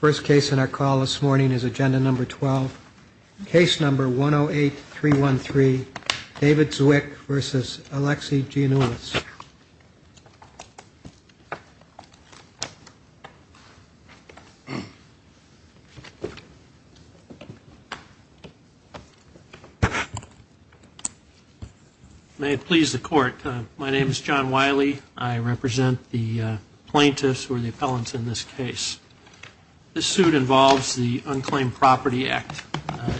First case in our call this morning is agenda number 12, case number 108-313, David Cwik v. Alexi Giannoulias. May it please the court, my name is John Wiley. I represent the plaintiffs or the appellants in this case. This suit involves the Unclaimed Property Act.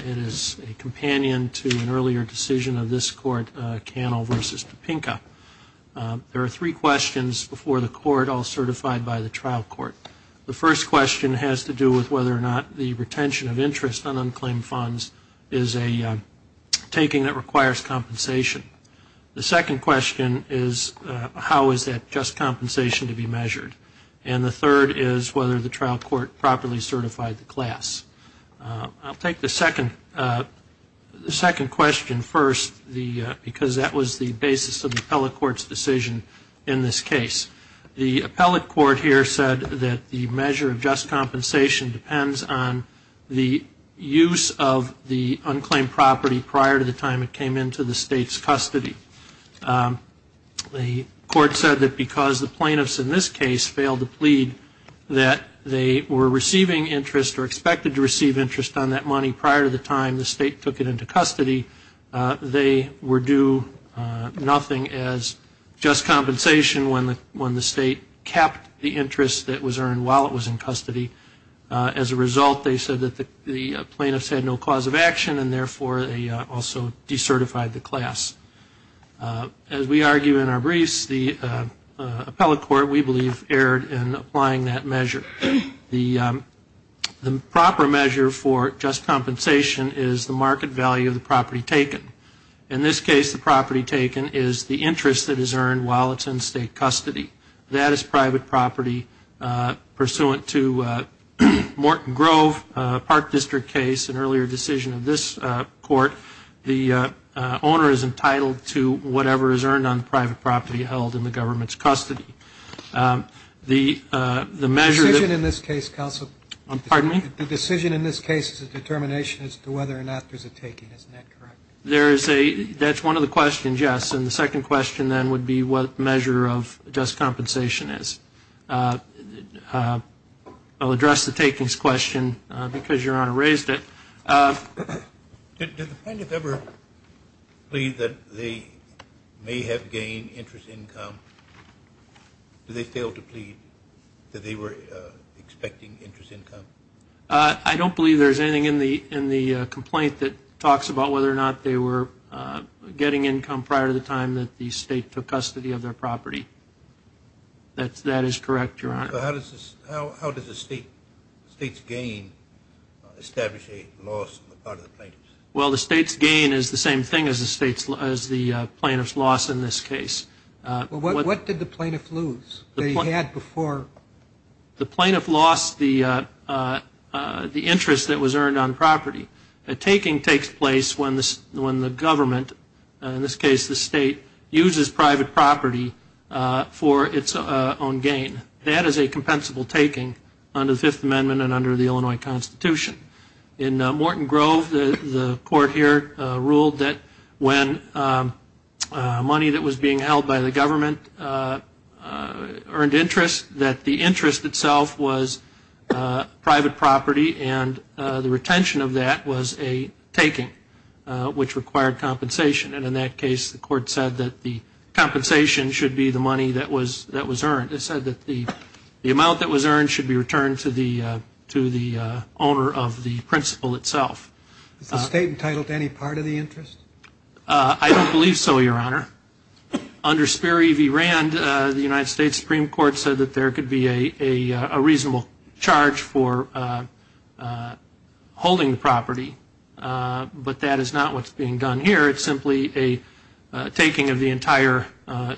It is a companion to an earlier decision of this court, Cannell v. Topenka. There are three questions before the court, all certified by the trial court. The first question has to do with whether or not the retention of interest on unclaimed funds is a taking that requires compensation. The second question is how is that just compensation to be measured? And the third is whether the trial court properly certified the class. I'll take the second question first because that was the basis of the appellate court's decision in this case. The appellate court here said that the measure of just compensation depends on the use of the unclaimed property prior to the time it came into the state's custody. The court said that because the plaintiffs in this case failed to plead that they were receiving interest or expected to receive interest on that money prior to the time the state took it into custody, they were due nothing as just compensation when the state kept the interest that was earned while it was in custody. As a result, they said that the plaintiffs had no cause of action and therefore they also decertified the class. As we argue in our briefs, the appellate court, we believe, erred in applying that measure. The proper measure for just compensation is the market value of the property taken. In this case, the property taken is the interest that is earned while it's in state custody. That is private property pursuant to Morton Grove Park District case, an earlier decision of this court. The owner is entitled to whatever is earned on private property held in the government's custody. The measure that... The decision in this case, counsel... Pardon me? The decision in this case is a determination as to whether or not there's a taking. Isn't that correct? That's one of the questions, yes. And the second question then would be what measure of just compensation is. I'll address the takings question because Your Honor raised it. Do the plaintiffs ever plead that they may have gained interest income? Do they fail to plead that they were expecting interest income? I don't believe there's anything in the complaint that talks about whether or not they were getting income prior to the time that the state took custody of their property. That is correct, Your Honor. So how does the state's gain establish a loss on the part of the plaintiffs? Well, the state's gain is the same thing as the plaintiff's loss in this case. What did the plaintiff lose that he had before? The plaintiff lost the interest that was earned on property. A taking takes place when the government, in this case the state, uses private property for its own gain. That is a compensable taking under the Fifth Amendment and under the Illinois Constitution. In Morton Grove, the court here ruled that when money that was being held by the government earned interest, that the interest itself was private property and the retention of that was a taking, which required compensation. And in that case, the court said that the compensation should be the money that was earned. The court has said that the amount that was earned should be returned to the owner of the principal itself. Is the state entitled to any part of the interest? I don't believe so, Your Honor. Under Sperry v. Rand, the United States Supreme Court said that there could be a reasonable charge for holding the property, but that is not what's being done here. It's simply a taking of the entire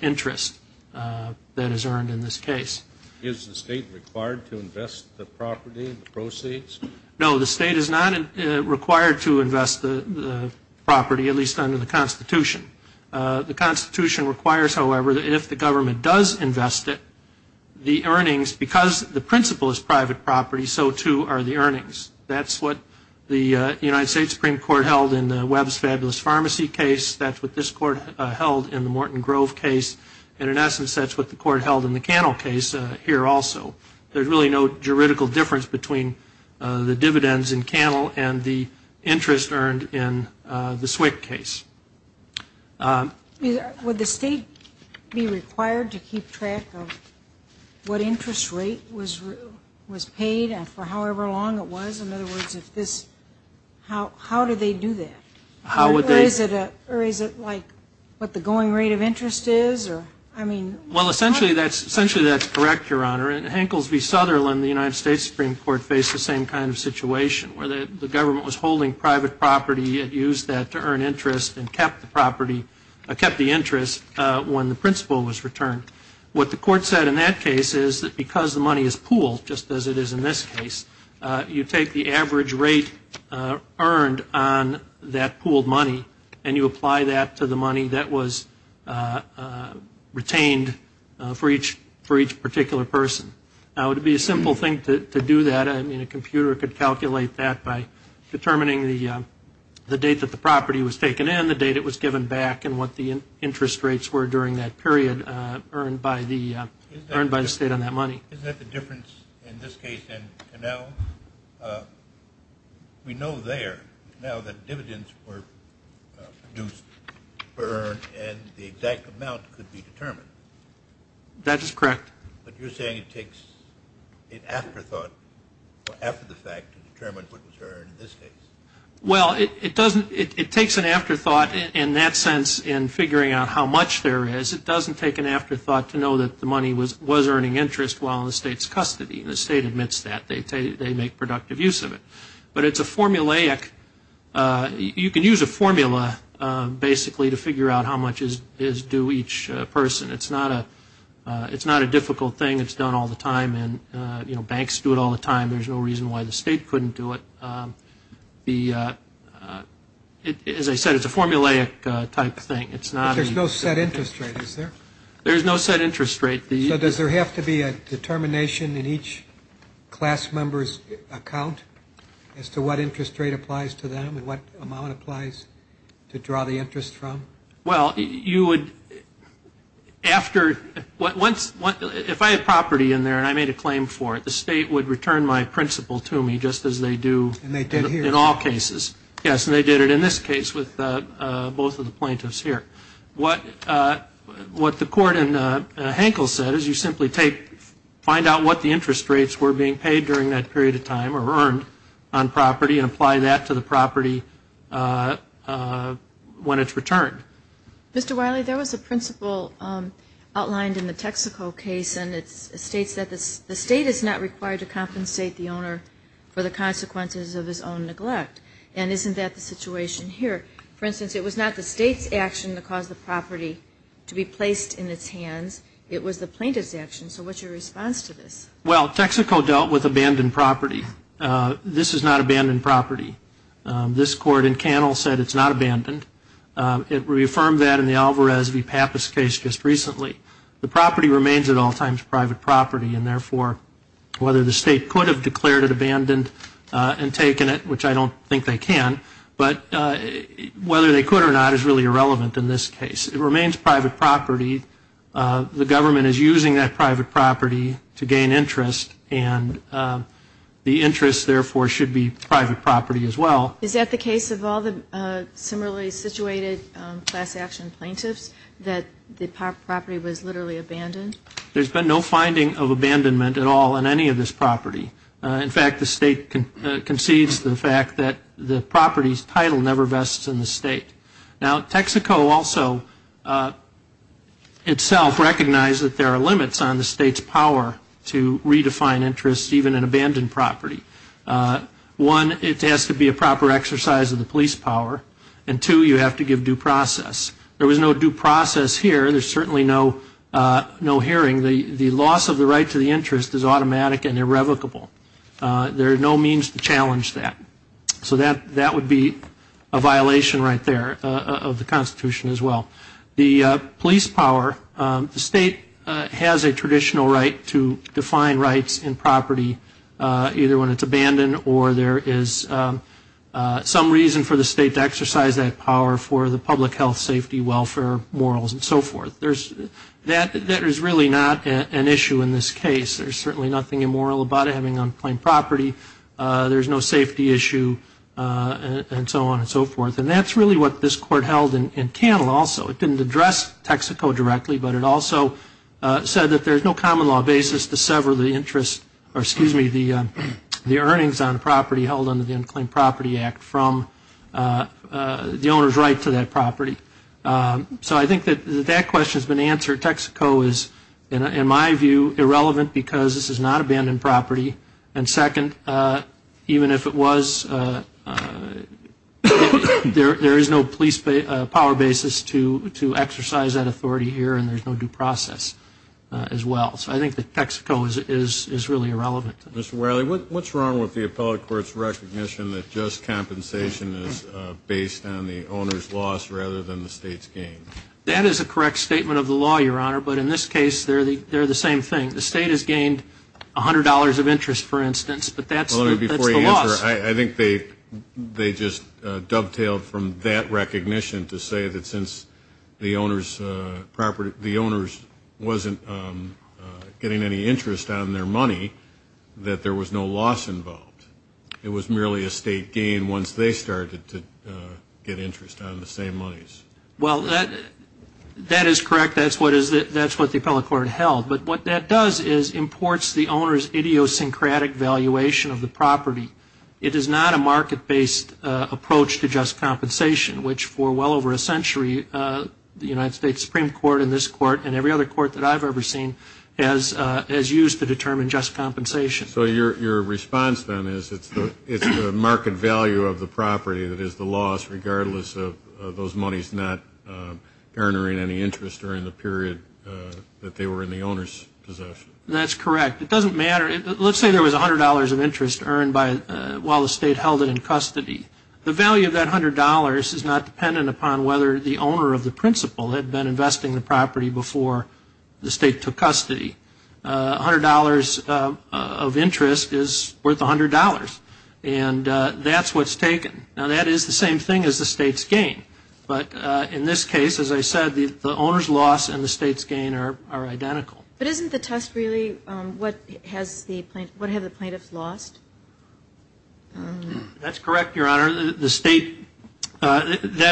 interest that is earned in this case. Is the state required to invest the property in the proceeds? No, the state is not required to invest the property, at least under the Constitution. The Constitution requires, however, that if the government does invest it, the earnings, because the principal is private property, so too are the earnings. That's what the United States Supreme Court held in the Webbs Fabulous Pharmacy case. That's what this court held in the Morton Grove case. And in essence, that's what the court held in the Cannell case here also. There's really no juridical difference between the dividends in Cannell and the interest earned in the Swick case. Would the state be required to keep track of what interest rate was paid and for however long it was? In other words, how do they do that? Or is it like what the going rate of interest is? Well, essentially that's correct, Your Honor. In Hankles v. Sutherland, the United States Supreme Court faced the same kind of situation where the government was holding private property and used that to earn interest and kept the interest when the principal was returned. What the court said in that case is that because the money is pooled, just as it is in this case, you take the average rate earned on that pooled money and you apply that to the money that was retained for each particular person. It would be a simple thing to do that. I mean, a computer could calculate that by determining the date that the property was taken in, the date it was given back, and what the interest rates were during that period earned by the state on that money. Isn't that the difference in this case and Cannell? We know there now that dividends were produced, earned, and the exact amount could be determined. That is correct. But you're saying it takes an afterthought or after the fact to determine what was earned in this case. Well, it doesn't. It takes an afterthought in that sense in figuring out how much there is. It doesn't take an afterthought to know that the money was earning interest while in the state's custody. The state admits that. They make productive use of it. But it's a formulaic. You can use a formula basically to figure out how much is due each person. It's not a difficult thing. It's done all the time, and, you know, banks do it all the time. There's no reason why the state couldn't do it. As I said, it's a formulaic type thing. But there's no set interest rate, is there? There's no set interest rate. So does there have to be a determination in each class member's account as to what interest rate applies to them and what amount applies to draw the interest from? Well, you would, after, if I had property in there and I made a claim for it, the state would return my principal to me just as they do in all cases. Yes, and they did it in this case with both of the plaintiffs here. What the court in Hankel said is you simply find out what the interest rates were being paid during that period of time or earned on property and apply that to the property when it's returned. Mr. Wiley, there was a principle outlined in the Texaco case, and it states that the state is not required to compensate the owner for the consequences of his own neglect. And isn't that the situation here? For instance, it was not the state's action to cause the property to be placed in its hands. It was the plaintiff's action. So what's your response to this? Well, Texaco dealt with abandoned property. This is not abandoned property. This court in Cannell said it's not abandoned. It reaffirmed that in the Alvarez v. Pappas case just recently. The property remains at all times private property, and therefore whether the state could have declared it abandoned and taken it, which I don't think they can, but whether they could or not is really irrelevant in this case. It remains private property. The government is using that private property to gain interest, and the interest therefore should be private property as well. Is that the case of all the similarly situated class action plaintiffs, that the property was literally abandoned? There's been no finding of abandonment at all in any of this property. In fact, the state concedes the fact that the property's title never vests in the state. Now, Texaco also itself recognized that there are limits on the state's power to redefine interest even in abandoned property. One, it has to be a proper exercise of the police power. And two, you have to give due process. There was no due process here. There's certainly no hearing. The loss of the right to the interest is automatic and irrevocable. There are no means to challenge that. So that would be a violation right there of the Constitution as well. The police power, the state has a traditional right to define rights in property, either when it's abandoned or there is some reason for the state to exercise that power for the public health, safety, welfare, morals, and so forth. That is really not an issue in this case. There's certainly nothing immoral about it, having unclaimed property. There's no safety issue and so on and so forth. And that's really what this court held in Cannell also. It didn't address Texaco directly, but it also said that there's no common law basis to sever the interest or, excuse me, the earnings on property held under the Unclaimed Property Act from the owner's right to that property. So I think that that question has been answered. Texaco is, in my view, irrelevant because this is not abandoned property. And second, even if it was, there is no police power basis to exercise that authority here and there's no due process as well. So I think that Texaco is really irrelevant. Mr. Wiley, what's wrong with the appellate court's recognition that just compensation is based on the owner's loss rather than the state's gain? That is a correct statement of the law, Your Honor, but in this case they're the same thing. The state has gained $100 of interest, for instance, but that's the loss. Your Honor, before you answer, I think they just dovetailed from that recognition to say that since the owners wasn't getting any interest on their money, that there was no loss involved. It was merely a state gain once they started to get interest on the same monies. Well, that is correct. That's what the appellate court held. But what that does is imports the owner's idiosyncratic valuation of the property. It is not a market-based approach to just compensation, which for well over a century the United States Supreme Court and this court and every other court that I've ever seen has used to determine just compensation. So your response, then, is it's the market value of the property that is the loss, regardless of those monies not garnering any interest during the period that they were in the owner's possession? That's correct. It doesn't matter. Let's say there was $100 of interest earned while the state held it in custody. The value of that $100 is not dependent upon whether the owner of the principal had been investing the property before the state took custody. $100 of interest is worth $100, and that's what's taken. Now, that is the same thing as the state's gain. But in this case, as I said, the owner's loss and the state's gain are identical. But isn't the test really what have the plaintiffs lost? That's correct, Your Honor. That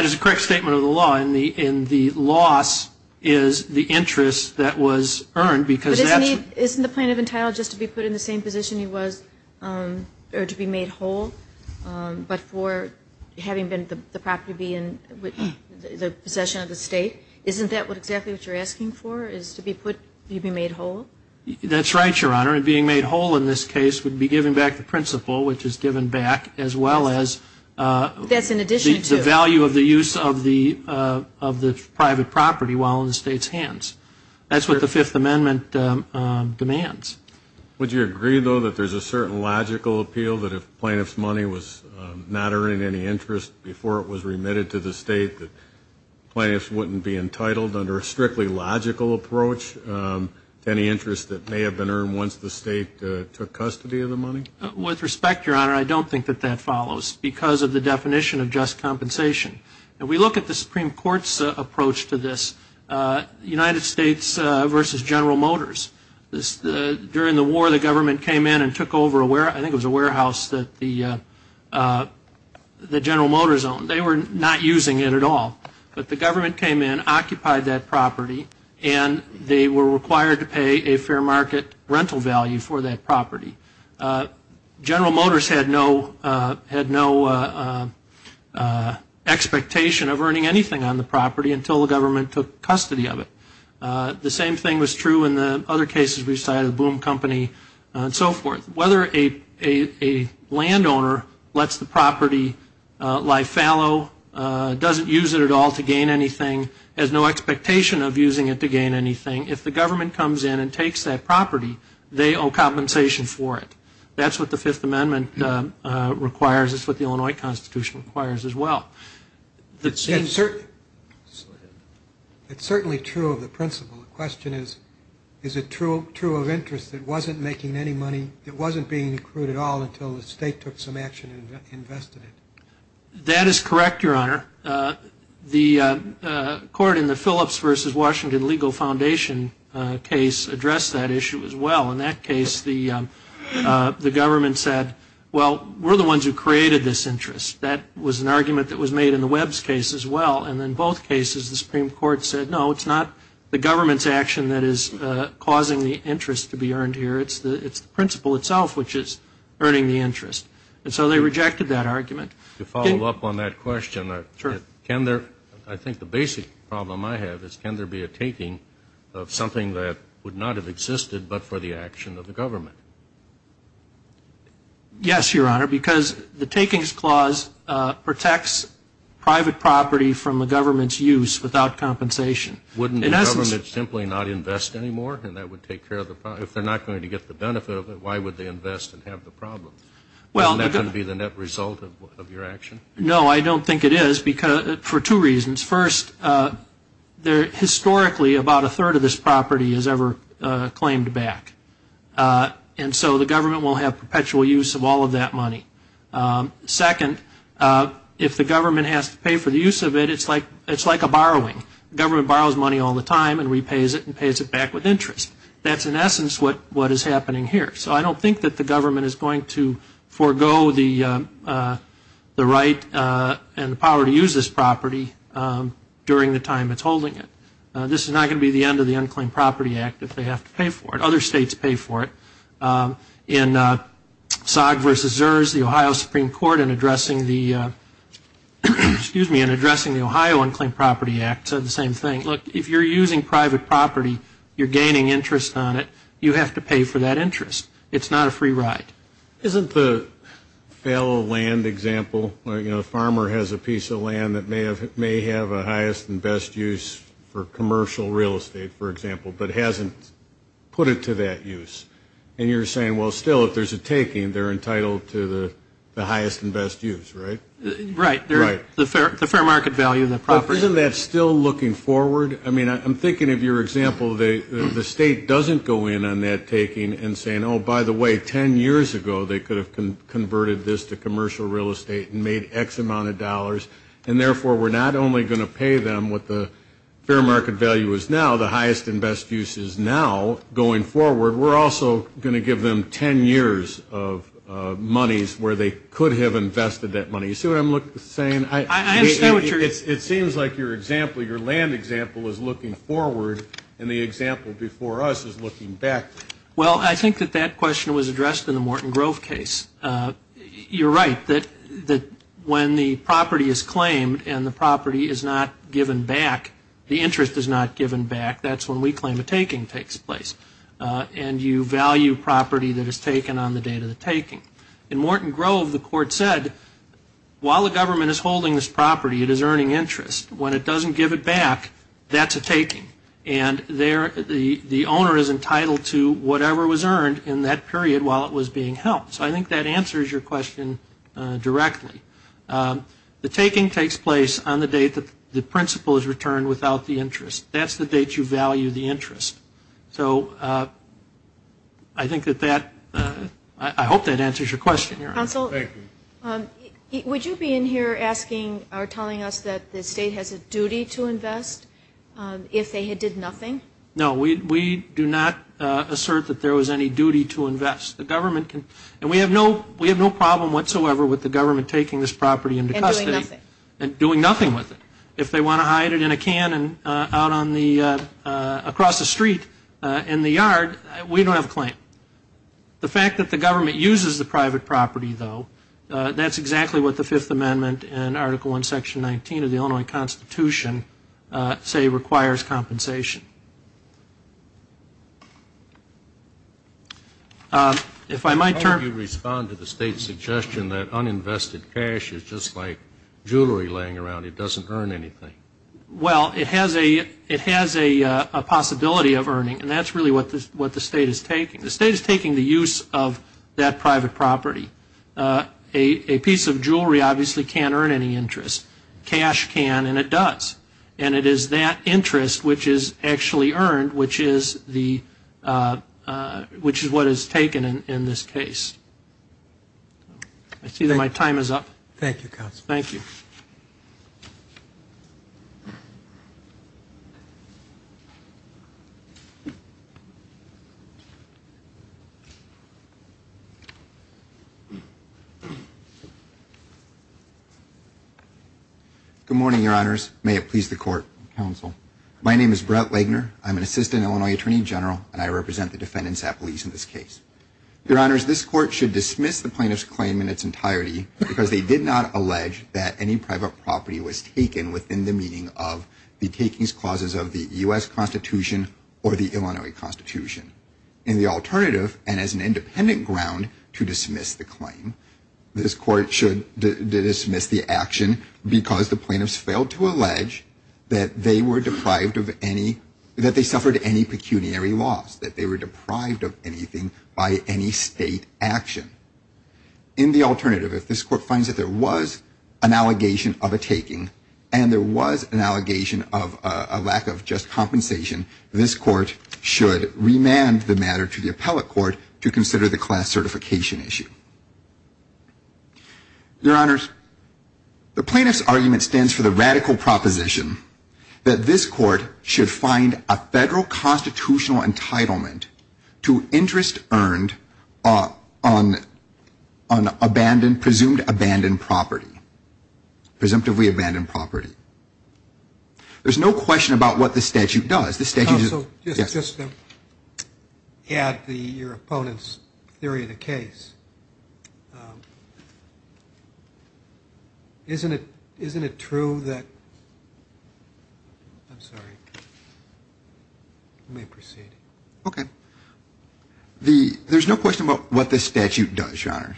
is a correct statement of the law, and the loss is the interest that was earned. But isn't the plaintiff entitled just to be put in the same position he was or to be made whole, but for having the property be in the possession of the state? Isn't that exactly what you're asking for, is to be made whole? That's right, Your Honor. And being made whole in this case would be giving back the principal, which is given back as well as the value of the use of the private property while in the state's hands. That's what the Fifth Amendment demands. Would you agree, though, that there's a certain logical appeal that if plaintiff's money was not earning any interest before it was remitted to the state, that plaintiffs wouldn't be entitled under a strictly logical approach to any interest that may have been earned once the state took custody of the money? With respect, Your Honor, I don't think that that follows, because of the definition of just compensation. And we look at the Supreme Court's approach to this, United States versus General Motors. During the war, the government came in and took over a warehouse. I think it was a warehouse that General Motors owned. They were not using it at all. But the government came in, occupied that property, and they were required to pay a fair market rental value for that property. General Motors had no expectation of earning anything on the property until the government took custody of it. The same thing was true in the other cases we cited, Boom Company and so forth. Whether a landowner lets the property lie fallow, doesn't use it at all to gain anything, has no expectation of using it to gain anything, if the government comes in and takes that property, they owe compensation for it. That's what the Fifth Amendment requires. That's what the Illinois Constitution requires as well. It's certainly true of the principle. The question is, is it true of interest it wasn't making any money, it wasn't being accrued at all until the state took some action and invested it? That is correct, Your Honor. The court in the Phillips versus Washington Legal Foundation case addressed that issue as well. In that case, the government said, well, we're the ones who created this interest. That was an argument that was made in the Webbs case as well. And in both cases, the Supreme Court said, no, it's not the government's action that is causing the interest to be earned here, it's the principle itself which is earning the interest. And so they rejected that argument. To follow up on that question, I think the basic problem I have is, can there be a taking of something that would not have existed but for the action of the government? Yes, Your Honor, because the takings clause protects private property from the government's use without compensation. Wouldn't the government simply not invest anymore? And that would take care of the problem. If they're not going to get the benefit of it, why would they invest and have the problem? Isn't that going to be the net result of your action? No, I don't think it is for two reasons. First, historically about a third of this property is ever claimed back. And so the government will have perpetual use of all of that money. Second, if the government has to pay for the use of it, it's like a borrowing. The government borrows money all the time and repays it and pays it back with interest. That's, in essence, what is happening here. So I don't think that the government is going to forego the right and the power to use this property during the time it's holding it. This is not going to be the end of the Unclaimed Property Act if they have to pay for it. Other states pay for it. In SOG v. ZERS, the Ohio Supreme Court in addressing the Ohio Unclaimed Property Act said the same thing. Look, if you're using private property, you're gaining interest on it. You have to pay for that interest. It's not a free ride. Isn't the fellow land example, you know, a farmer has a piece of land that may have a highest and best use for commercial real estate, for example, but hasn't put it to that use. And you're saying, well, still, if there's a taking, they're entitled to the highest and best use, right? Right. Right. The fair market value of the property. But isn't that still looking forward? I mean, I'm thinking of your example. The state doesn't go in on that taking and saying, oh, by the way, 10 years ago they could have converted this to commercial real estate and made X amount of dollars, and therefore we're not only going to pay them what the fair market value is now, the highest and best use is now going forward, we're also going to give them 10 years of monies where they could have invested that money. You see what I'm saying? I understand what you're saying. It seems like your example, your land example is looking forward, and the example before us is looking back. Well, I think that that question was addressed in the Morton Grove case. You're right that when the property is claimed and the property is not given back, the interest is not given back, that's when we claim a taking takes place, and you value property that is taken on the date of the taking. In Morton Grove, the court said, while the government is holding this property, it is earning interest. When it doesn't give it back, that's a taking, and the owner is entitled to whatever was earned in that period while it was being held. So I think that answers your question directly. The taking takes place on the date that the principal is returned without the interest. That's the date you value the interest. So I think that that – I hope that answers your question. Counsel, would you be in here asking or telling us that the state has a duty to invest if they did nothing? No, we do not assert that there was any duty to invest. The government can – and we have no problem whatsoever with the government taking this property into custody. And doing nothing. And doing nothing with it. If they want to hide it in a can out on the – across the street in the yard, we don't have a claim. The fact that the government uses the private property, though, that's exactly what the Fifth Amendment and Article I, Section 19 of the Illinois Constitution, say requires compensation. If I might – How would you respond to the state's suggestion that uninvested cash is just like jewelry laying around? It doesn't earn anything. Well, it has a possibility of earning, and that's really what the state is taking. The state is taking the use of that private property. A piece of jewelry obviously can't earn any interest. Cash can, and it does. And it is that interest which is actually earned, which is the – which is what is taken in this case. I see that my time is up. Thank you, Counsel. Thank you. Good morning, Your Honors. May it please the Court, Counsel. My name is Brett Legner. I'm an Assistant Illinois Attorney General, and I represent the defendants at police in this case. Your Honors, this Court should dismiss the plaintiff's claim in its entirety because they did not allege that any private property was taken within the meaning of the takings clauses of the U.S. Constitution or the Illinois Constitution. In the alternative, and as an independent ground to dismiss the claim, this Court should dismiss the action because the plaintiffs failed to allege that they were deprived of any – that they suffered any pecuniary loss, that they were deprived of anything by any state action. In the alternative, if this Court finds that there was an allegation of a taking and there was an allegation of a lack of just compensation, this Court should remand the matter to the appellate court to consider the class certification issue. Your Honors, the plaintiff's argument stands for the radical proposition that this Court should find a federal constitutional entitlement to interest earned on abandoned – presumed abandoned property, presumptively abandoned property. There's no question about what the statute does. The statute does – yes. So just to add your opponent's theory of the case, isn't it true that – I'm sorry. Let me proceed. Okay. There's no question about what the statute does, Your Honors.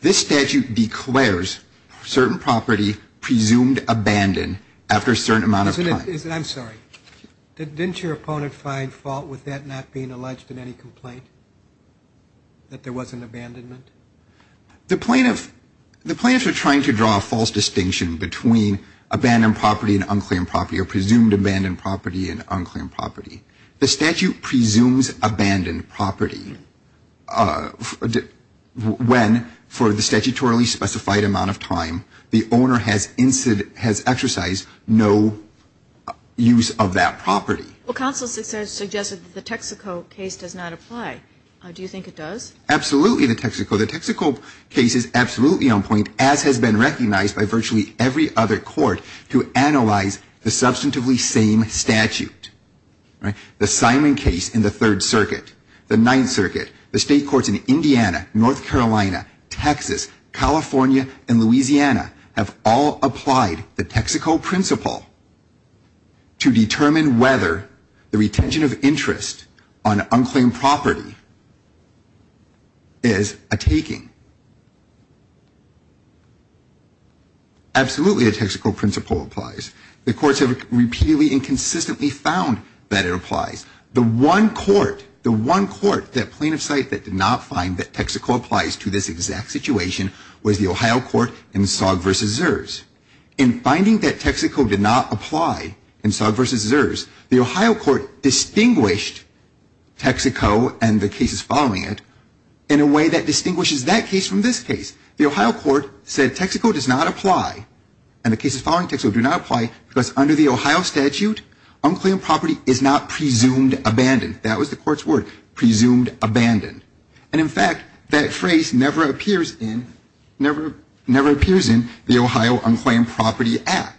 This statute declares certain property presumed abandoned after a certain amount of time. I'm sorry. Didn't your opponent find fault with that not being alleged in any complaint, that there was an abandonment? The plaintiff – the plaintiffs are trying to draw a false distinction between abandoned property and unclaimed property or presumed abandoned property and unclaimed property. The statute presumes abandoned property when, for the statutorily specified amount of time, the owner has exercised no use of that property. Well, counsel suggested that the Texaco case does not apply. Do you think it does? Absolutely, the Texaco. The Texaco case is absolutely on point, as has been recognized by virtually every other court, to analyze the substantively same statute. The Simon case in the Third Circuit, the Ninth Circuit, the state courts in Indiana, North Carolina, Texas, California, and Louisiana have all applied the Texaco principle to determine whether the retention of interest on unclaimed property is a taking. Absolutely, the Texaco principle applies. The courts have repeatedly and consistently found that it applies. The one court, the one court, that plaintiff cited that did not find that Texaco applies to this exact situation was the Ohio court in Sogg v. Zers. In finding that Texaco did not apply in Sogg v. Zers, the Ohio court distinguished Texaco and the cases following it in a way that distinguishes that case from this case. The Ohio court said Texaco does not apply and the cases following Texaco do not apply because under the Ohio statute, unclaimed property is not presumed abandoned. That was the court's word, presumed abandoned. And, in fact, that phrase never appears in the Ohio Unclaimed Property Act.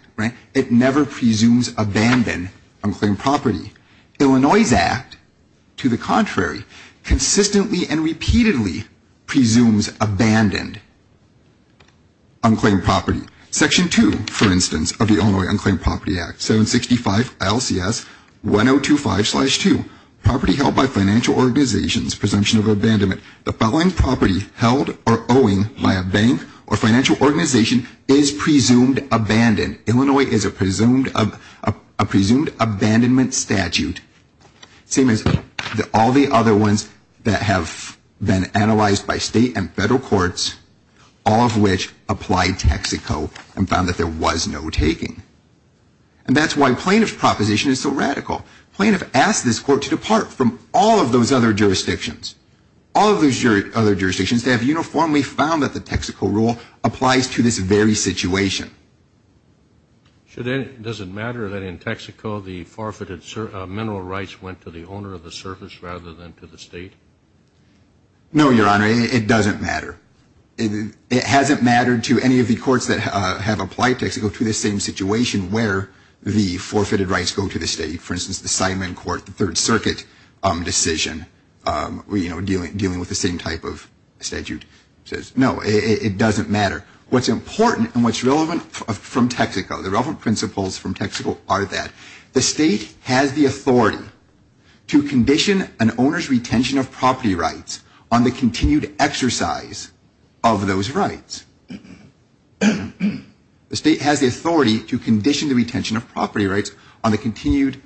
It never presumes abandoned unclaimed property. Illinois' Act, to the contrary, consistently and repeatedly presumes abandoned unclaimed property. Section 2, for instance, of the Illinois Unclaimed Property Act, 765 LCS 1025-2, property held by financial organizations, presumption of abandonment. The following property held or owing by a bank or financial organization is presumed abandoned. Illinois is a presumed abandonment statute. Same as all the other ones that have been analyzed by state and federal courts, all of which applied Texaco and found that there was no taking. And that's why plaintiff's proposition is so radical. Plaintiff asked this court to depart from all of those other jurisdictions, all of those other jurisdictions that have uniformly found that the Texaco rule applies to this very situation. Does it matter that in Texaco the forfeited mineral rights went to the owner of the service rather than to the state? No, Your Honor, it doesn't matter. It hasn't mattered to any of the courts that have applied Texaco to the same situation where the forfeited rights go to the state. For instance, the Simon Court, the Third Circuit decision, you know, dealing with the same type of statute. No, it doesn't matter. What's important and what's relevant from Texaco, the relevant principles from Texaco are that the state has the authority to condition an owner's retention of property rights on the continued exercise of those rights. The state has the authority to condition the retention of property rights on the continued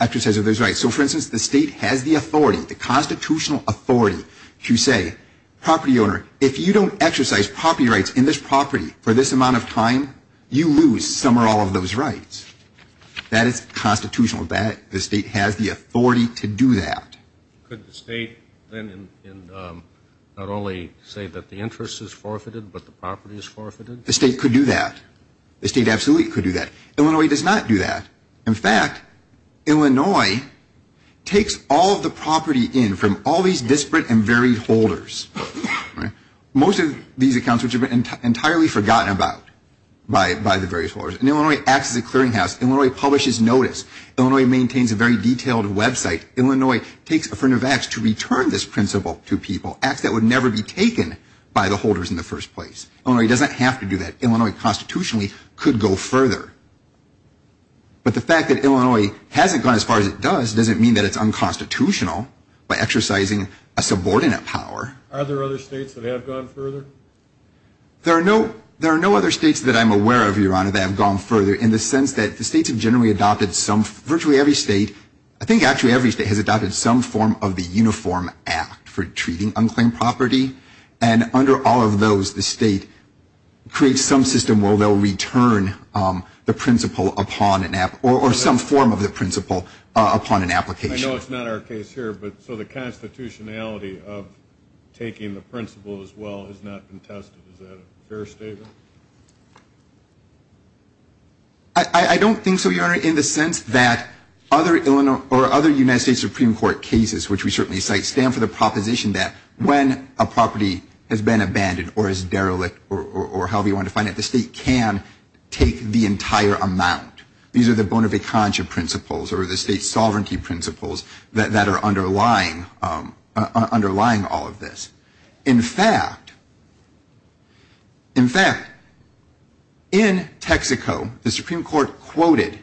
exercise of those rights. So, for instance, the state has the authority, the constitutional authority to say, property owner, if you don't exercise property rights in this property for this amount of time, you lose some or all of those rights. That is constitutional. The state has the authority to do that. Could the state then not only say that the interest is forfeited but the property is forfeited? The state could do that. The state absolutely could do that. Illinois does not do that. In fact, Illinois takes all of the property in from all these disparate and varied holders. Most of these accounts which have been entirely forgotten about by the various holders. And Illinois acts as a clearinghouse. Illinois publishes notice. Illinois maintains a very detailed website. Illinois takes affirmative acts to return this principle to people, acts that would never be taken by the holders in the first place. Illinois doesn't have to do that. Illinois constitutionally could go further. But the fact that Illinois hasn't gone as far as it does doesn't mean that it's unconstitutional by exercising a subordinate power. Are there other states that have gone further? There are no other states that I'm aware of, Your Honor, that have gone further in the sense that the states have generally adopted some, virtually every state, I think actually every state has adopted some form of the Uniform Act for treating unclaimed property. And under all of those, the state creates some system where they'll return the principle upon an app or some form of the principle upon an application. I know it's not our case here, but so the constitutionality of taking the principle as well has not been tested. Is that a fair statement? I don't think so, Your Honor, in the sense that other United States Supreme Court cases, which we certainly cite, stand for the proposition that when a property has been abandoned or is derelict or however you want to define it, the state can take the entire amount. These are the bona fide conjure principles or the state sovereignty principles that are underlying all of this. In fact, in fact, in Texaco, the Supreme Court quoted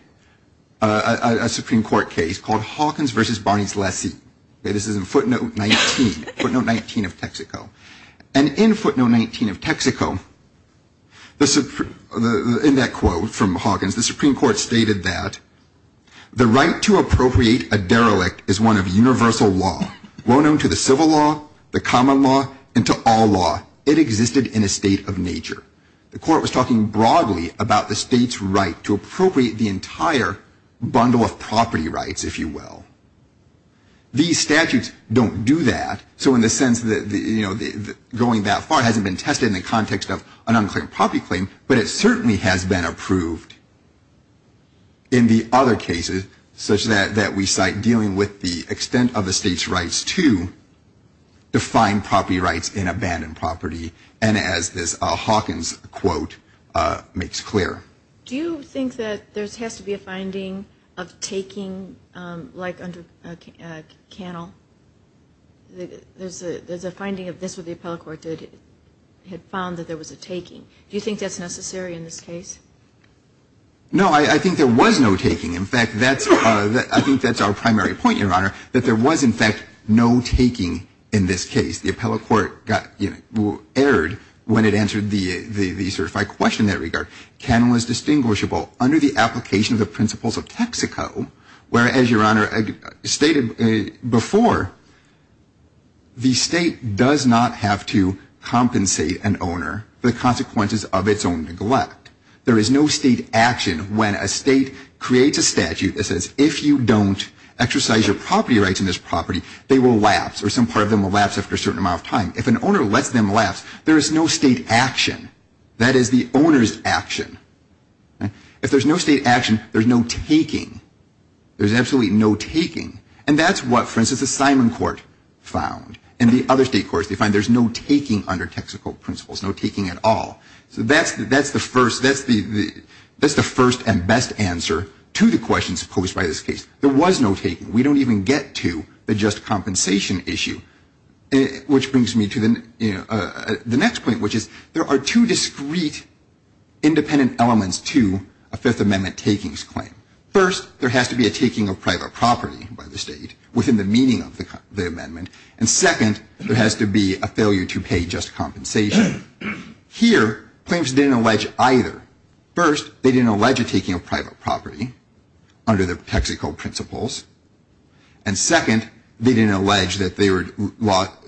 a Supreme Court case called Hawkins v. Barney's Lessee. This is in footnote 19, footnote 19 of Texaco. And in footnote 19 of Texaco, in that quote from Hawkins, the Supreme Court stated that the right to appropriate a derelict is one of universal law, well known to the civil law, the common law, and to all law. It existed in a state of nature. The court was talking broadly about the state's right to appropriate the entire bundle of property rights, if you will. These statutes don't do that. So in the sense that going that far hasn't been tested in the context of an unclear property claim, but it certainly has been approved in the other cases, such that we cite dealing with the extent of the state's rights to define property rights in abandoned property. And as this Hawkins quote makes clear. Do you think that there has to be a finding of taking like under Cannell? There's a finding of this with the appellate court that it had found that there was a taking. Do you think that's necessary in this case? No, I think there was no taking. In fact, I think that's our primary point, Your Honor, that there was, in fact, no taking in this case. The appellate court erred when it answered the certified question in that regard. Cannell is distinguishable under the application of the principles of Texaco, where, as Your Honor stated before, the state does not have to compensate an owner for the consequences of its own neglect. There is no state action when a state creates a statute that says, if you don't exercise your property rights in this property, they will lapse or some part of them will lapse after a certain amount of time. If an owner lets them lapse, there is no state action. That is the owner's action. If there's no state action, there's no taking. There's absolutely no taking. And that's what, for instance, the Simon court found. In the other state courts, they find there's no taking under Texaco principles, no taking at all. So that's the first and best answer to the questions posed by this case. There was no taking. We don't even get to the just compensation issue, which brings me to the next point, which is there are two discrete independent elements to a Fifth Amendment takings claim. First, there has to be a taking of private property by the state within the meaning of the amendment. And second, there has to be a failure to pay just compensation. Here, claims didn't allege either. First, they didn't allege a taking of private property under the Texaco principles. And second, they didn't allege that they were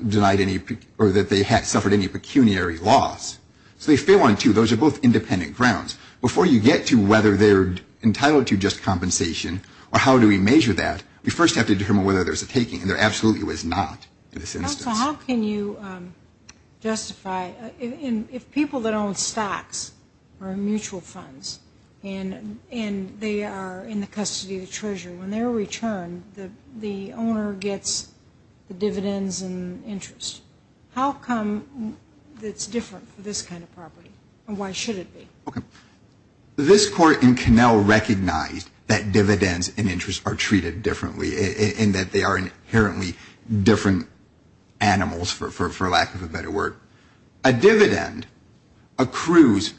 denied any or that they suffered any pecuniary loss. So they fail on two. Those are both independent grounds. Before you get to whether they're entitled to just compensation or how do we measure that, we first have to determine whether there's a taking. And there absolutely was not in this instance. Now, how can you justify if people that own stocks or mutual funds and they are in the custody of the treasurer, when they're returned the owner gets the dividends and interest. How come it's different for this kind of property and why should it be? Okay. This Court in Connell recognized that dividends and interest are treated differently in that they are inherently different animals, for lack of a better word. A dividend accrues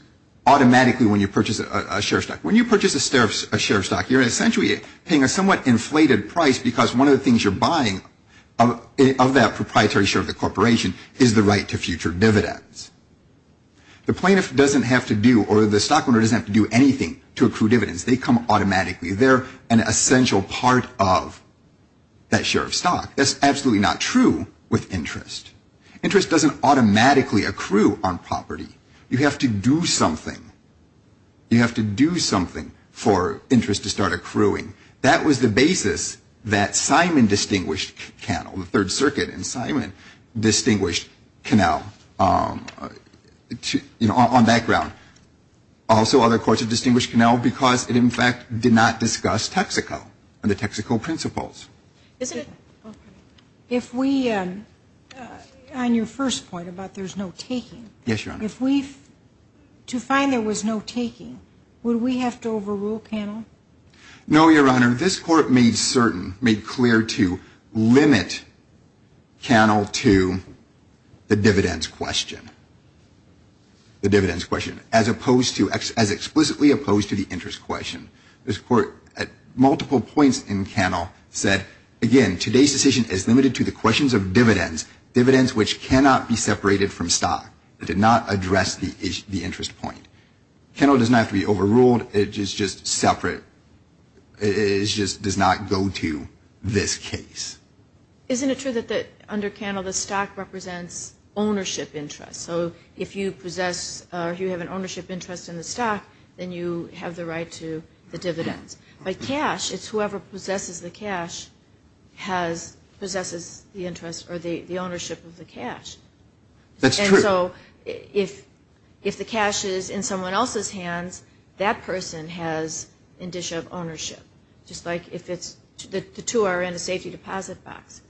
automatically when you purchase a share of stock. When you purchase a share of stock, you're essentially paying a somewhat inflated price because one of the things you're buying of that proprietary share of the corporation is the right to future dividends. The plaintiff doesn't have to do or the stockholder doesn't have to do anything to accrue dividends. They come automatically. They're an essential part of that share of stock. That's absolutely not true with interest. Interest doesn't automatically accrue on property. You have to do something. You have to do something for interest to start accruing. That was the basis that Simon distinguished Connell, the Third Circuit, and Simon distinguished Connell on that ground. Also, other courts have distinguished Connell because it, in fact, did not discuss Texaco and the Texaco principles. Isn't it? If we, on your first point about there's no taking. Yes, Your Honor. If we, to find there was no taking, would we have to overrule Connell? No, Your Honor. This Court made certain, made clear to limit Connell to the dividends question. The dividends question, as opposed to, as explicitly opposed to the interest question. This Court, at multiple points in Connell, said, again, today's decision is limited to the questions of dividends, dividends which cannot be separated from stock. It did not address the interest point. Connell does not have to be overruled. It is just separate. It just does not go to this case. Isn't it true that under Connell the stock represents ownership interest? So if you possess or you have an ownership interest in the stock, then you have the right to the dividends. By cash, it's whoever possesses the cash has, possesses the interest or the ownership of the cash. That's true. And so if the cash is in someone else's hands, that person has indicia of ownership. Just like if it's, the two are in a safety deposit box.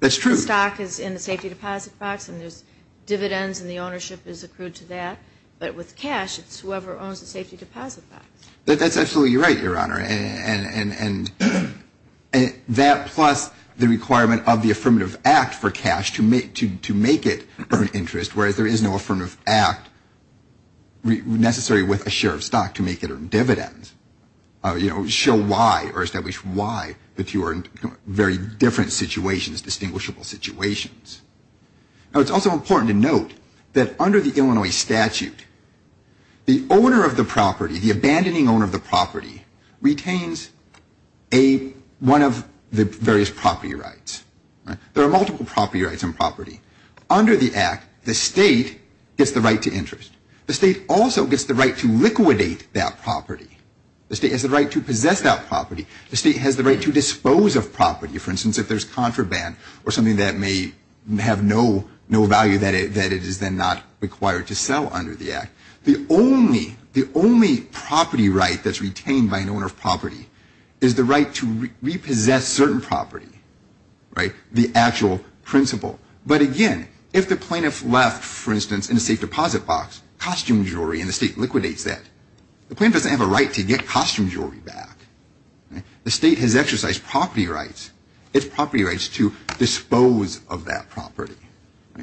That's true. The stock is in the safety deposit box and there's dividends and the ownership is accrued to that. But with cash, it's whoever owns the safety deposit box. That's absolutely right, Your Honor. And that plus the requirement of the Affirmative Act for cash to make it an interest, whereas there is no Affirmative Act necessary with a share of stock to make it a dividend. You know, show why or establish why that you are in very different situations, distinguishable situations. Now, it's also important to note that under the Illinois statute, the owner of the property, the abandoning owner of the property, retains a, one of the various property rights. There are multiple property rights on property. Under the Act, the state gets the right to interest. The state also gets the right to liquidate that property. The state has the right to possess that property. The state has the right to dispose of property. For instance, if there's contraband or something that may have no value, that it is then not required to sell under the Act. The only property right that's retained by an owner of property is the right to repossess certain property, the actual principle. But again, if the plaintiff left, for instance, in a safe deposit box, costume jewelry, and the state liquidates that, the plaintiff doesn't have a right to get costume jewelry back. The state has exercised property rights. It's property rights to dispose of that property,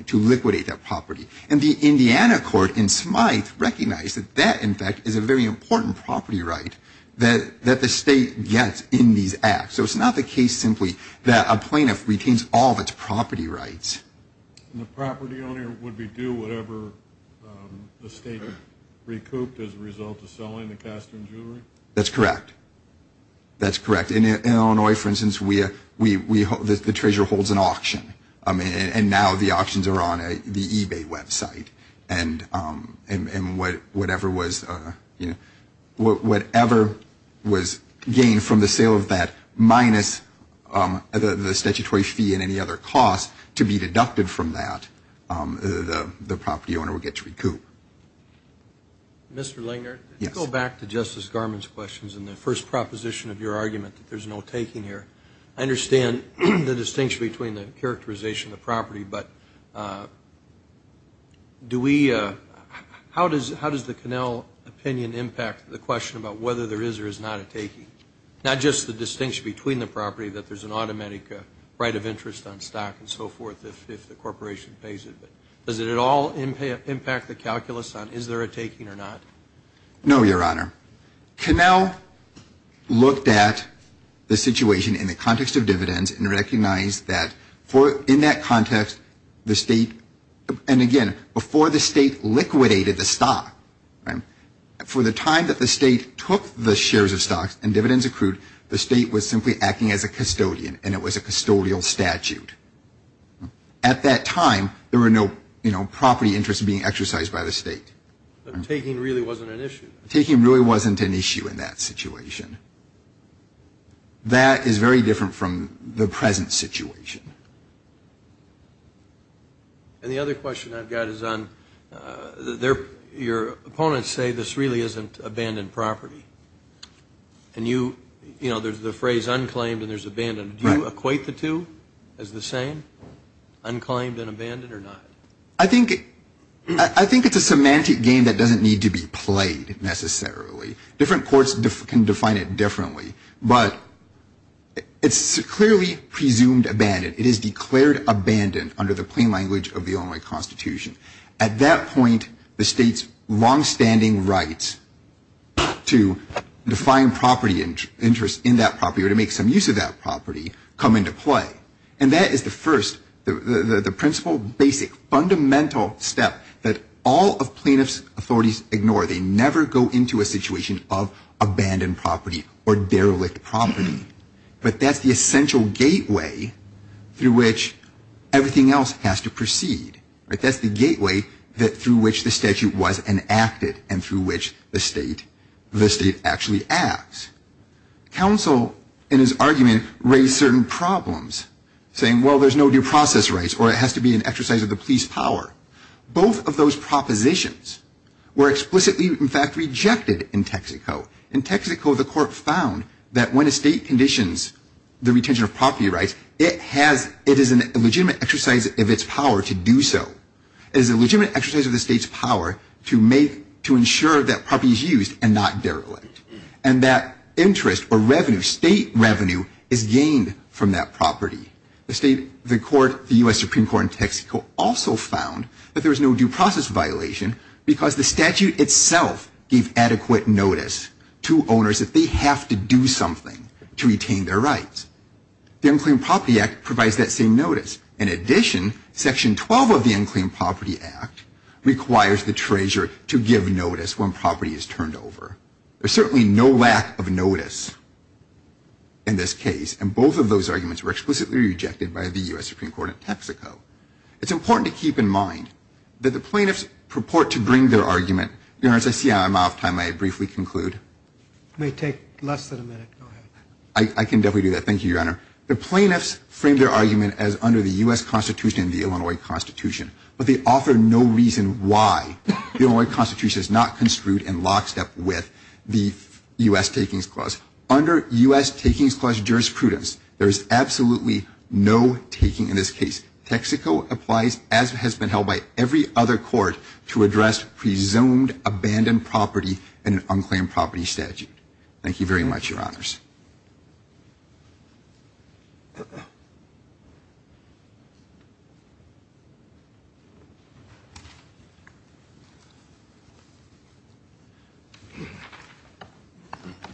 to liquidate that property. And the Indiana court in Smyth recognized that that, in fact, is a very important property right that the state gets in these Acts. So it's not the case simply that a plaintiff retains all of its property rights. The property owner would be due whatever the state recouped as a result of selling the costume jewelry? That's correct. That's correct. In Illinois, for instance, the treasurer holds an auction. And now the auctions are on the eBay website. And whatever was, you know, whatever was gained from the sale of that minus the statutory fee and any other cost to be deducted from that, the property owner would get to recoup. Mr. Langer? Yes. Let's go back to Justice Garmon's questions and the first proposition of your argument that there's no taking here. I understand the distinction between the characterization of the property, but do we – how does the Connell opinion impact the question about whether there is or is not a taking? Not just the distinction between the property, that there's an automatic right of interest on stock and so forth if the corporation pays it, but does it at all impact the calculus on is there a taking or not? No, Your Honor. Connell looked at the situation in the context of dividends and recognized that in that context the state – and again, before the state liquidated the stock, for the time that the state took the shares of stocks and dividends accrued, the state was simply acting as a custodian and it was a custodial statute. At that time, there were no, you know, property interests being exercised by the state. Taking really wasn't an issue. Taking really wasn't an issue in that situation. That is very different from the present situation. And the other question I've got is on – your opponents say this really isn't abandoned property. And you – you know, there's the phrase unclaimed and there's abandoned. Do you equate the two as the same, unclaimed and abandoned, or not? I think – I think it's a semantic game that doesn't need to be played necessarily. Different courts can define it differently. But it's clearly presumed abandoned. It is declared abandoned under the plain language of the Illinois Constitution. At that point, the state's longstanding rights to define property interests in that property or to make some use of that property come into play. And that is the first – the principal, basic, fundamental step that all of plaintiffs' authorities ignore. They never go into a situation of abandoned property or derelict property. But that's the essential gateway through which everything else has to proceed. That's the gateway through which the statute was enacted and through which the state – the state actually acts. Counsel, in his argument, raised certain problems, saying, well, there's no due process rights or it has to be an exercise of the police power. Both of those propositions were explicitly, in fact, rejected in Texaco. In Texaco, the court found that when a state conditions the retention of property rights, it has – it is a legitimate exercise of its power to do so. It is a legitimate exercise of the state's power to make – to ensure that property is used and not derelict. And that interest or revenue, state revenue, is gained from that property. The state – the court – the U.S. Supreme Court in Texaco also found that there was no due process violation because the statute itself gave adequate notice to owners that they have to do something to retain their rights. The Unclaimed Property Act provides that same notice. In addition, Section 12 of the Unclaimed Property Act requires the treasurer to give notice when property is turned over. There's certainly no lack of notice in this case. And both of those arguments were explicitly rejected by the U.S. Supreme Court in Texaco. It's important to keep in mind that the plaintiffs purport to bring their argument – Your Honor, as I see I'm out of time, may I briefly conclude? It may take less than a minute. Go ahead. I can definitely do that. Thank you, Your Honor. The plaintiffs frame their argument as under the U.S. Constitution and the Illinois Constitution. But they offer no reason why the Illinois Constitution is not construed in lockstep with the U.S. Takings Clause. Under U.S. Takings Clause jurisprudence, there is absolutely no taking in this case. Texaco applies, as has been held by every other court, to address presumed abandoned property in an unclaimed property statute. Thank you very much, Your Honors.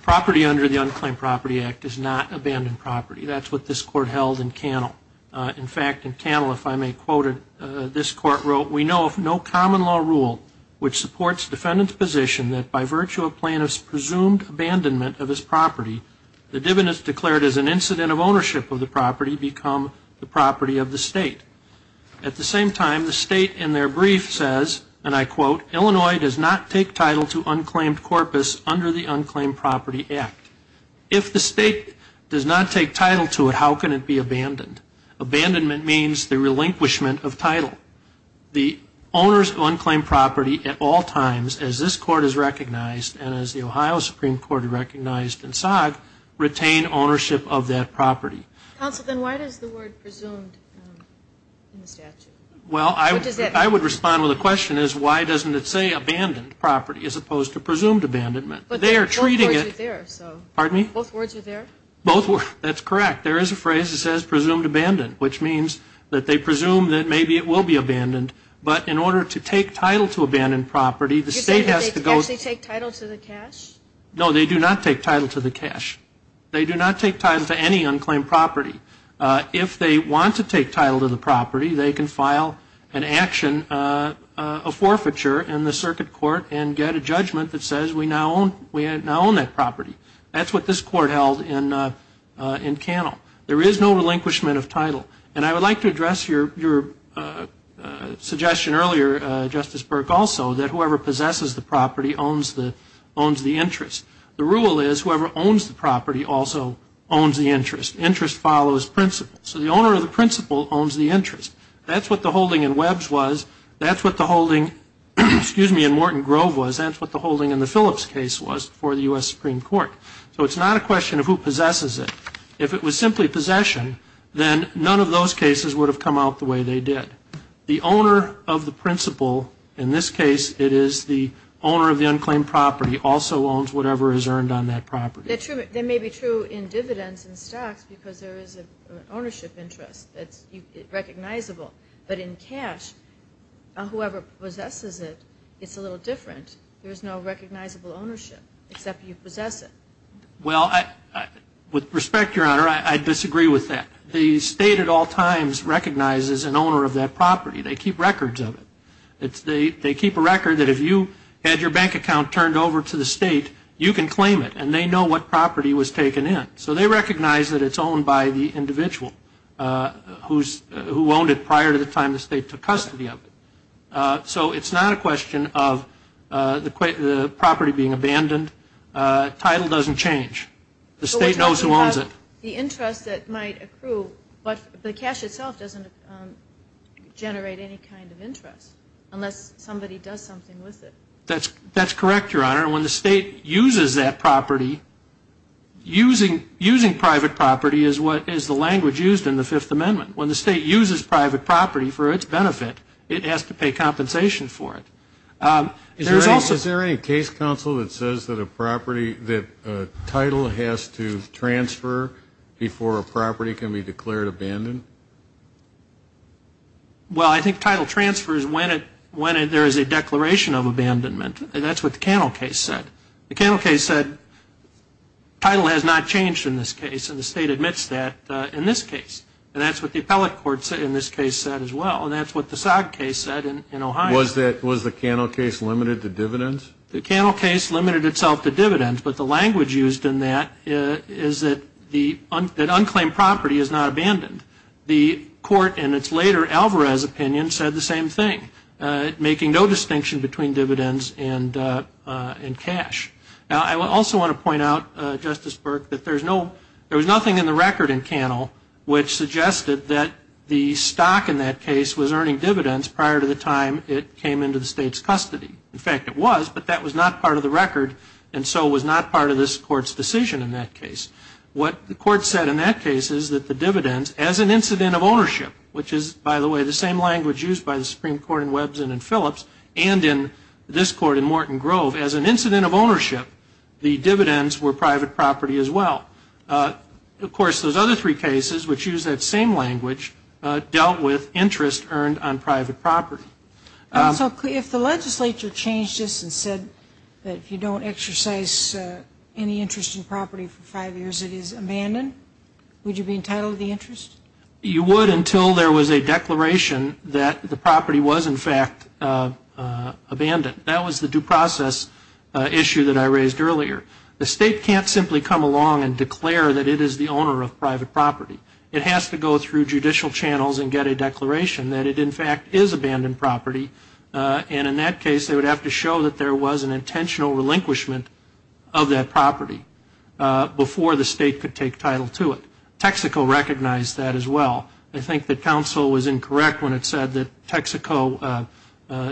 Property under the Unclaimed Property Act is not abandoned property. That's what this Court held in Cannell. In fact, in Cannell, if I may quote it, this Court wrote, We know of no common law rule which supports defendant's position that by virtue of plaintiff's presumed abandonment of his property, the dividends declared as an incident of ownership of the property become the property of the state. At the same time, the state in their brief says, and I quote, Illinois does not take title to unclaimed corpus under the Unclaimed Property Act. If the state does not take title to it, how can it be abandoned? Abandonment means the relinquishment of title. The owners of unclaimed property at all times, as this Court has recognized and as the Ohio Supreme Court recognized in SOG, retain ownership of that property. Counsel, then why does the word presumed in the statute? Well, I would respond with a question is why doesn't it say abandoned property as opposed to presumed abandonment? They are treating it. Both words are there. Pardon me? Both words are there. That's correct. There is a phrase that says presumed abandoned, which means that they presume that maybe it will be abandoned. But in order to take title to abandoned property, the state has to go. You're saying that they actually take title to the cash? No, they do not take title to the cash. They do not take title to any unclaimed property. If they want to take title to the property, they can file an action, a forfeiture in the circuit court and get a judgment that says we now own that property. That's what this Court held in Cannell. There is no relinquishment of title. And I would like to address your suggestion earlier, Justice Burke, also, that whoever possesses the property owns the interest. The rule is whoever owns the property also owns the interest. Interest follows principle. So the owner of the principle owns the interest. That's what the holding in Webbs was. That's what the holding, excuse me, in Morton Grove was. That's what the holding in the Phillips case was for the U.S. Supreme Court. So it's not a question of who possesses it. If it was simply possession, then none of those cases would have come out the way they did. The owner of the principle, in this case it is the owner of the unclaimed property, also owns whatever is earned on that property. That may be true in dividends and stocks because there is an ownership interest that's recognizable. But in cash, whoever possesses it, it's a little different. There is no recognizable ownership except you possess it. Well, with respect, Your Honor, I disagree with that. The state at all times recognizes an owner of that property. They keep records of it. They keep a record that if you had your bank account turned over to the state, you can claim it, and they know what property was taken in. So they recognize that it's owned by the individual who owned it prior to the time the state took custody of it. So it's not a question of the property being abandoned. Title doesn't change. The state knows who owns it. The interest that might accrue, but the cash itself doesn't generate any kind of interest, unless somebody does something with it. That's correct, Your Honor. When the state uses that property, using private property is the language used in the Fifth Amendment. When the state uses private property for its benefit, it has to pay compensation for it. Is there any case, counsel, that says that a title has to transfer before a property can be declared abandoned? Well, I think title transfers when there is a declaration of abandonment. That's what the Cannell case said. The Cannell case said title has not changed in this case, and the state admits that in this case. And that's what the appellate court in this case said as well, and that's what the Sag case said in Ohio. Was the Cannell case limited to dividends? The Cannell case limited itself to dividends, but the language used in that is that unclaimed property is not abandoned. The court in its later Alvarez opinion said the same thing, making no distinction between dividends and cash. Now, I also want to point out, Justice Burke, that there was nothing in the record in Cannell which suggested that the stock in that case was earning dividends prior to the time it came into the state's custody. In fact, it was, but that was not part of the record, and so was not part of this court's decision in that case. What the court said in that case is that the dividends, as an incident of ownership, which is, by the way, the same language used by the Supreme Court in Webbs and in Phillips, and in this court in Morton Grove, as an incident of ownership, the dividends were private property as well. Of course, those other three cases, which use that same language, dealt with interest earned on private property. So if the legislature changed this and said that if you don't exercise any interest in property for five years, it is abandoned, would you be entitled to the interest? You would until there was a declaration that the property was, in fact, abandoned. That was the due process issue that I raised earlier. The state can't simply come along and declare that it is the owner of private property. It has to go through judicial channels and get a declaration that it, in fact, is abandoned property, and in that case they would have to show that there was an intentional relinquishment of that property before the state could take title to it. Texaco recognized that as well. I think that counsel was incorrect when it said that Texaco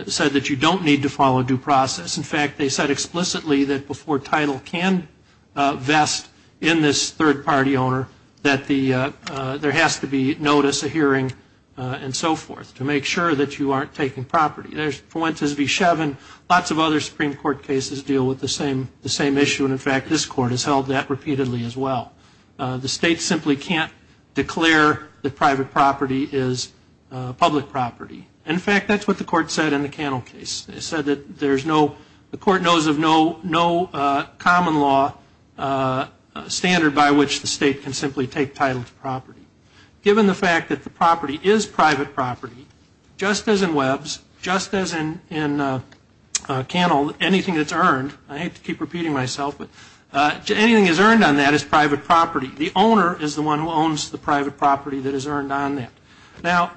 said that you don't need to follow due process. In fact, they said explicitly that before title can vest in this third-party owner that there has to be notice, a hearing, and so forth to make sure that you aren't taking property. There's Fuentes v. Shevin. Lots of other Supreme Court cases deal with the same issue, and, in fact, this court has held that repeatedly as well. The state simply can't declare that private property is public property. In fact, that's what the court said in the Cannell case. It said that the court knows of no common law standard by which the state can simply take title to property. Given the fact that the property is private property, just as in Webbs, just as in Cannell, anything that's earned, I hate to keep repeating myself, but anything that's earned on that is private property. The owner is the one who owns the private property that is earned on that. Now,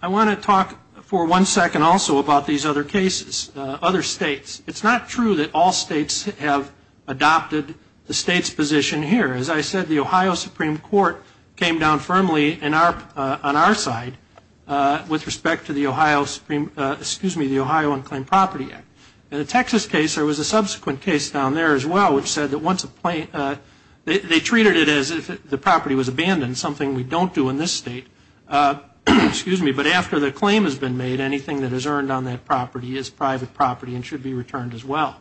I want to talk for one second also about these other cases, other states. It's not true that all states have adopted the state's position here. As I said, the Ohio Supreme Court came down firmly on our side with respect to the Ohio Unclaimed Property Act. In the Texas case, there was a subsequent case down there as well which said that once a plaintiff, they treated it as if the property was abandoned, something we don't do in this state. But after the claim has been made, anything that is earned on that property is private property and should be returned as well.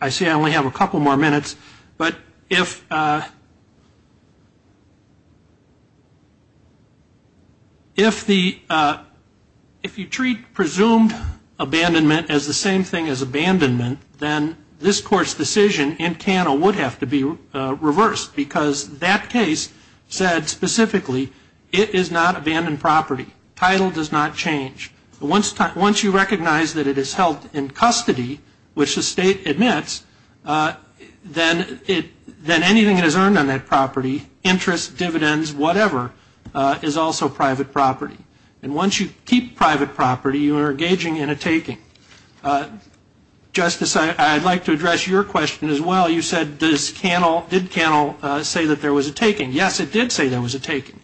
I see I only have a couple more minutes. But if you treat presumed abandonment as the same thing as abandonment, then this Court's decision in Cannell would have to be reversed because that case said specifically it is not abandoned property. Title does not change. Once you recognize that it is held in custody, which the state admits, then anything that is earned on that property, interest, dividends, whatever, is also private property. And once you keep private property, you are engaging in a taking. Justice, I would like to address your question as well. You said, did Cannell say that there was a taking? Yes, it did say there was a taking.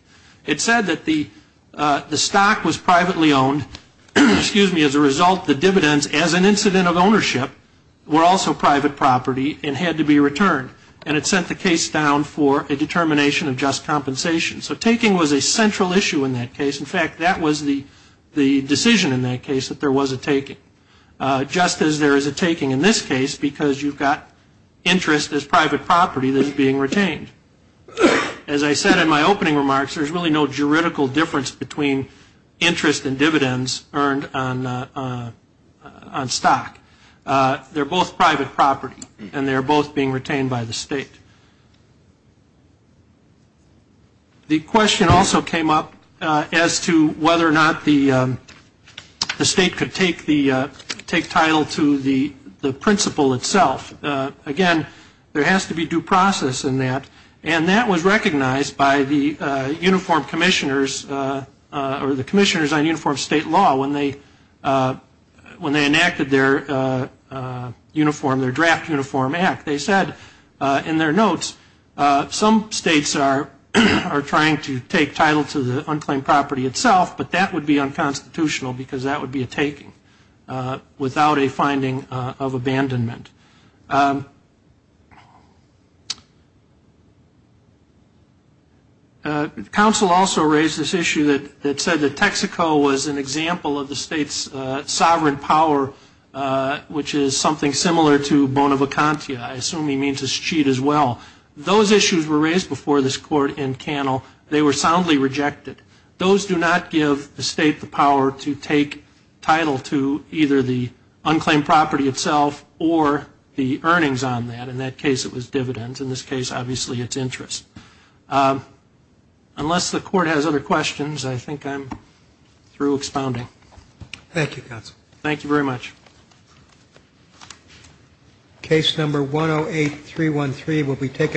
It said that the stock was privately owned. As a result, the dividends, as an incident of ownership, were also private property and had to be returned. And it sent the case down for a determination of just compensation. So taking was a central issue in that case. In fact, that was the decision in that case, that there was a taking. Just as there is a taking in this case because you've got interest as private property that is being retained. As I said in my opening remarks, there is really no juridical difference between interest and dividends earned on stock. They are both private property and they are both being retained by the state. The question also came up as to whether or not the state could take title to the principle itself. Again, there has to be due process in that. And that was recognized by the uniform commissioners or the commissioners on uniform state law when they enacted their uniform, their draft uniform act. They said in their notes some states are trying to take title to the unclaimed property itself, but that would be unconstitutional because that would be a taking without a finding of abandonment. The council also raised this issue that said that Texaco was an example of the state's sovereign power, which is something similar to Bona Vacantia. I assume he means to cheat as well. Those issues were raised before this court in Cannell. They were soundly rejected. Those do not give the state the power to take title to either the unclaimed property itself or the earnings on that. In that case, it was dividends. In this case, obviously, it's interest. Unless the court has other questions, I think I'm through expounding. Thank you, counsel. Thank you very much. Case number 108-313 will be taken.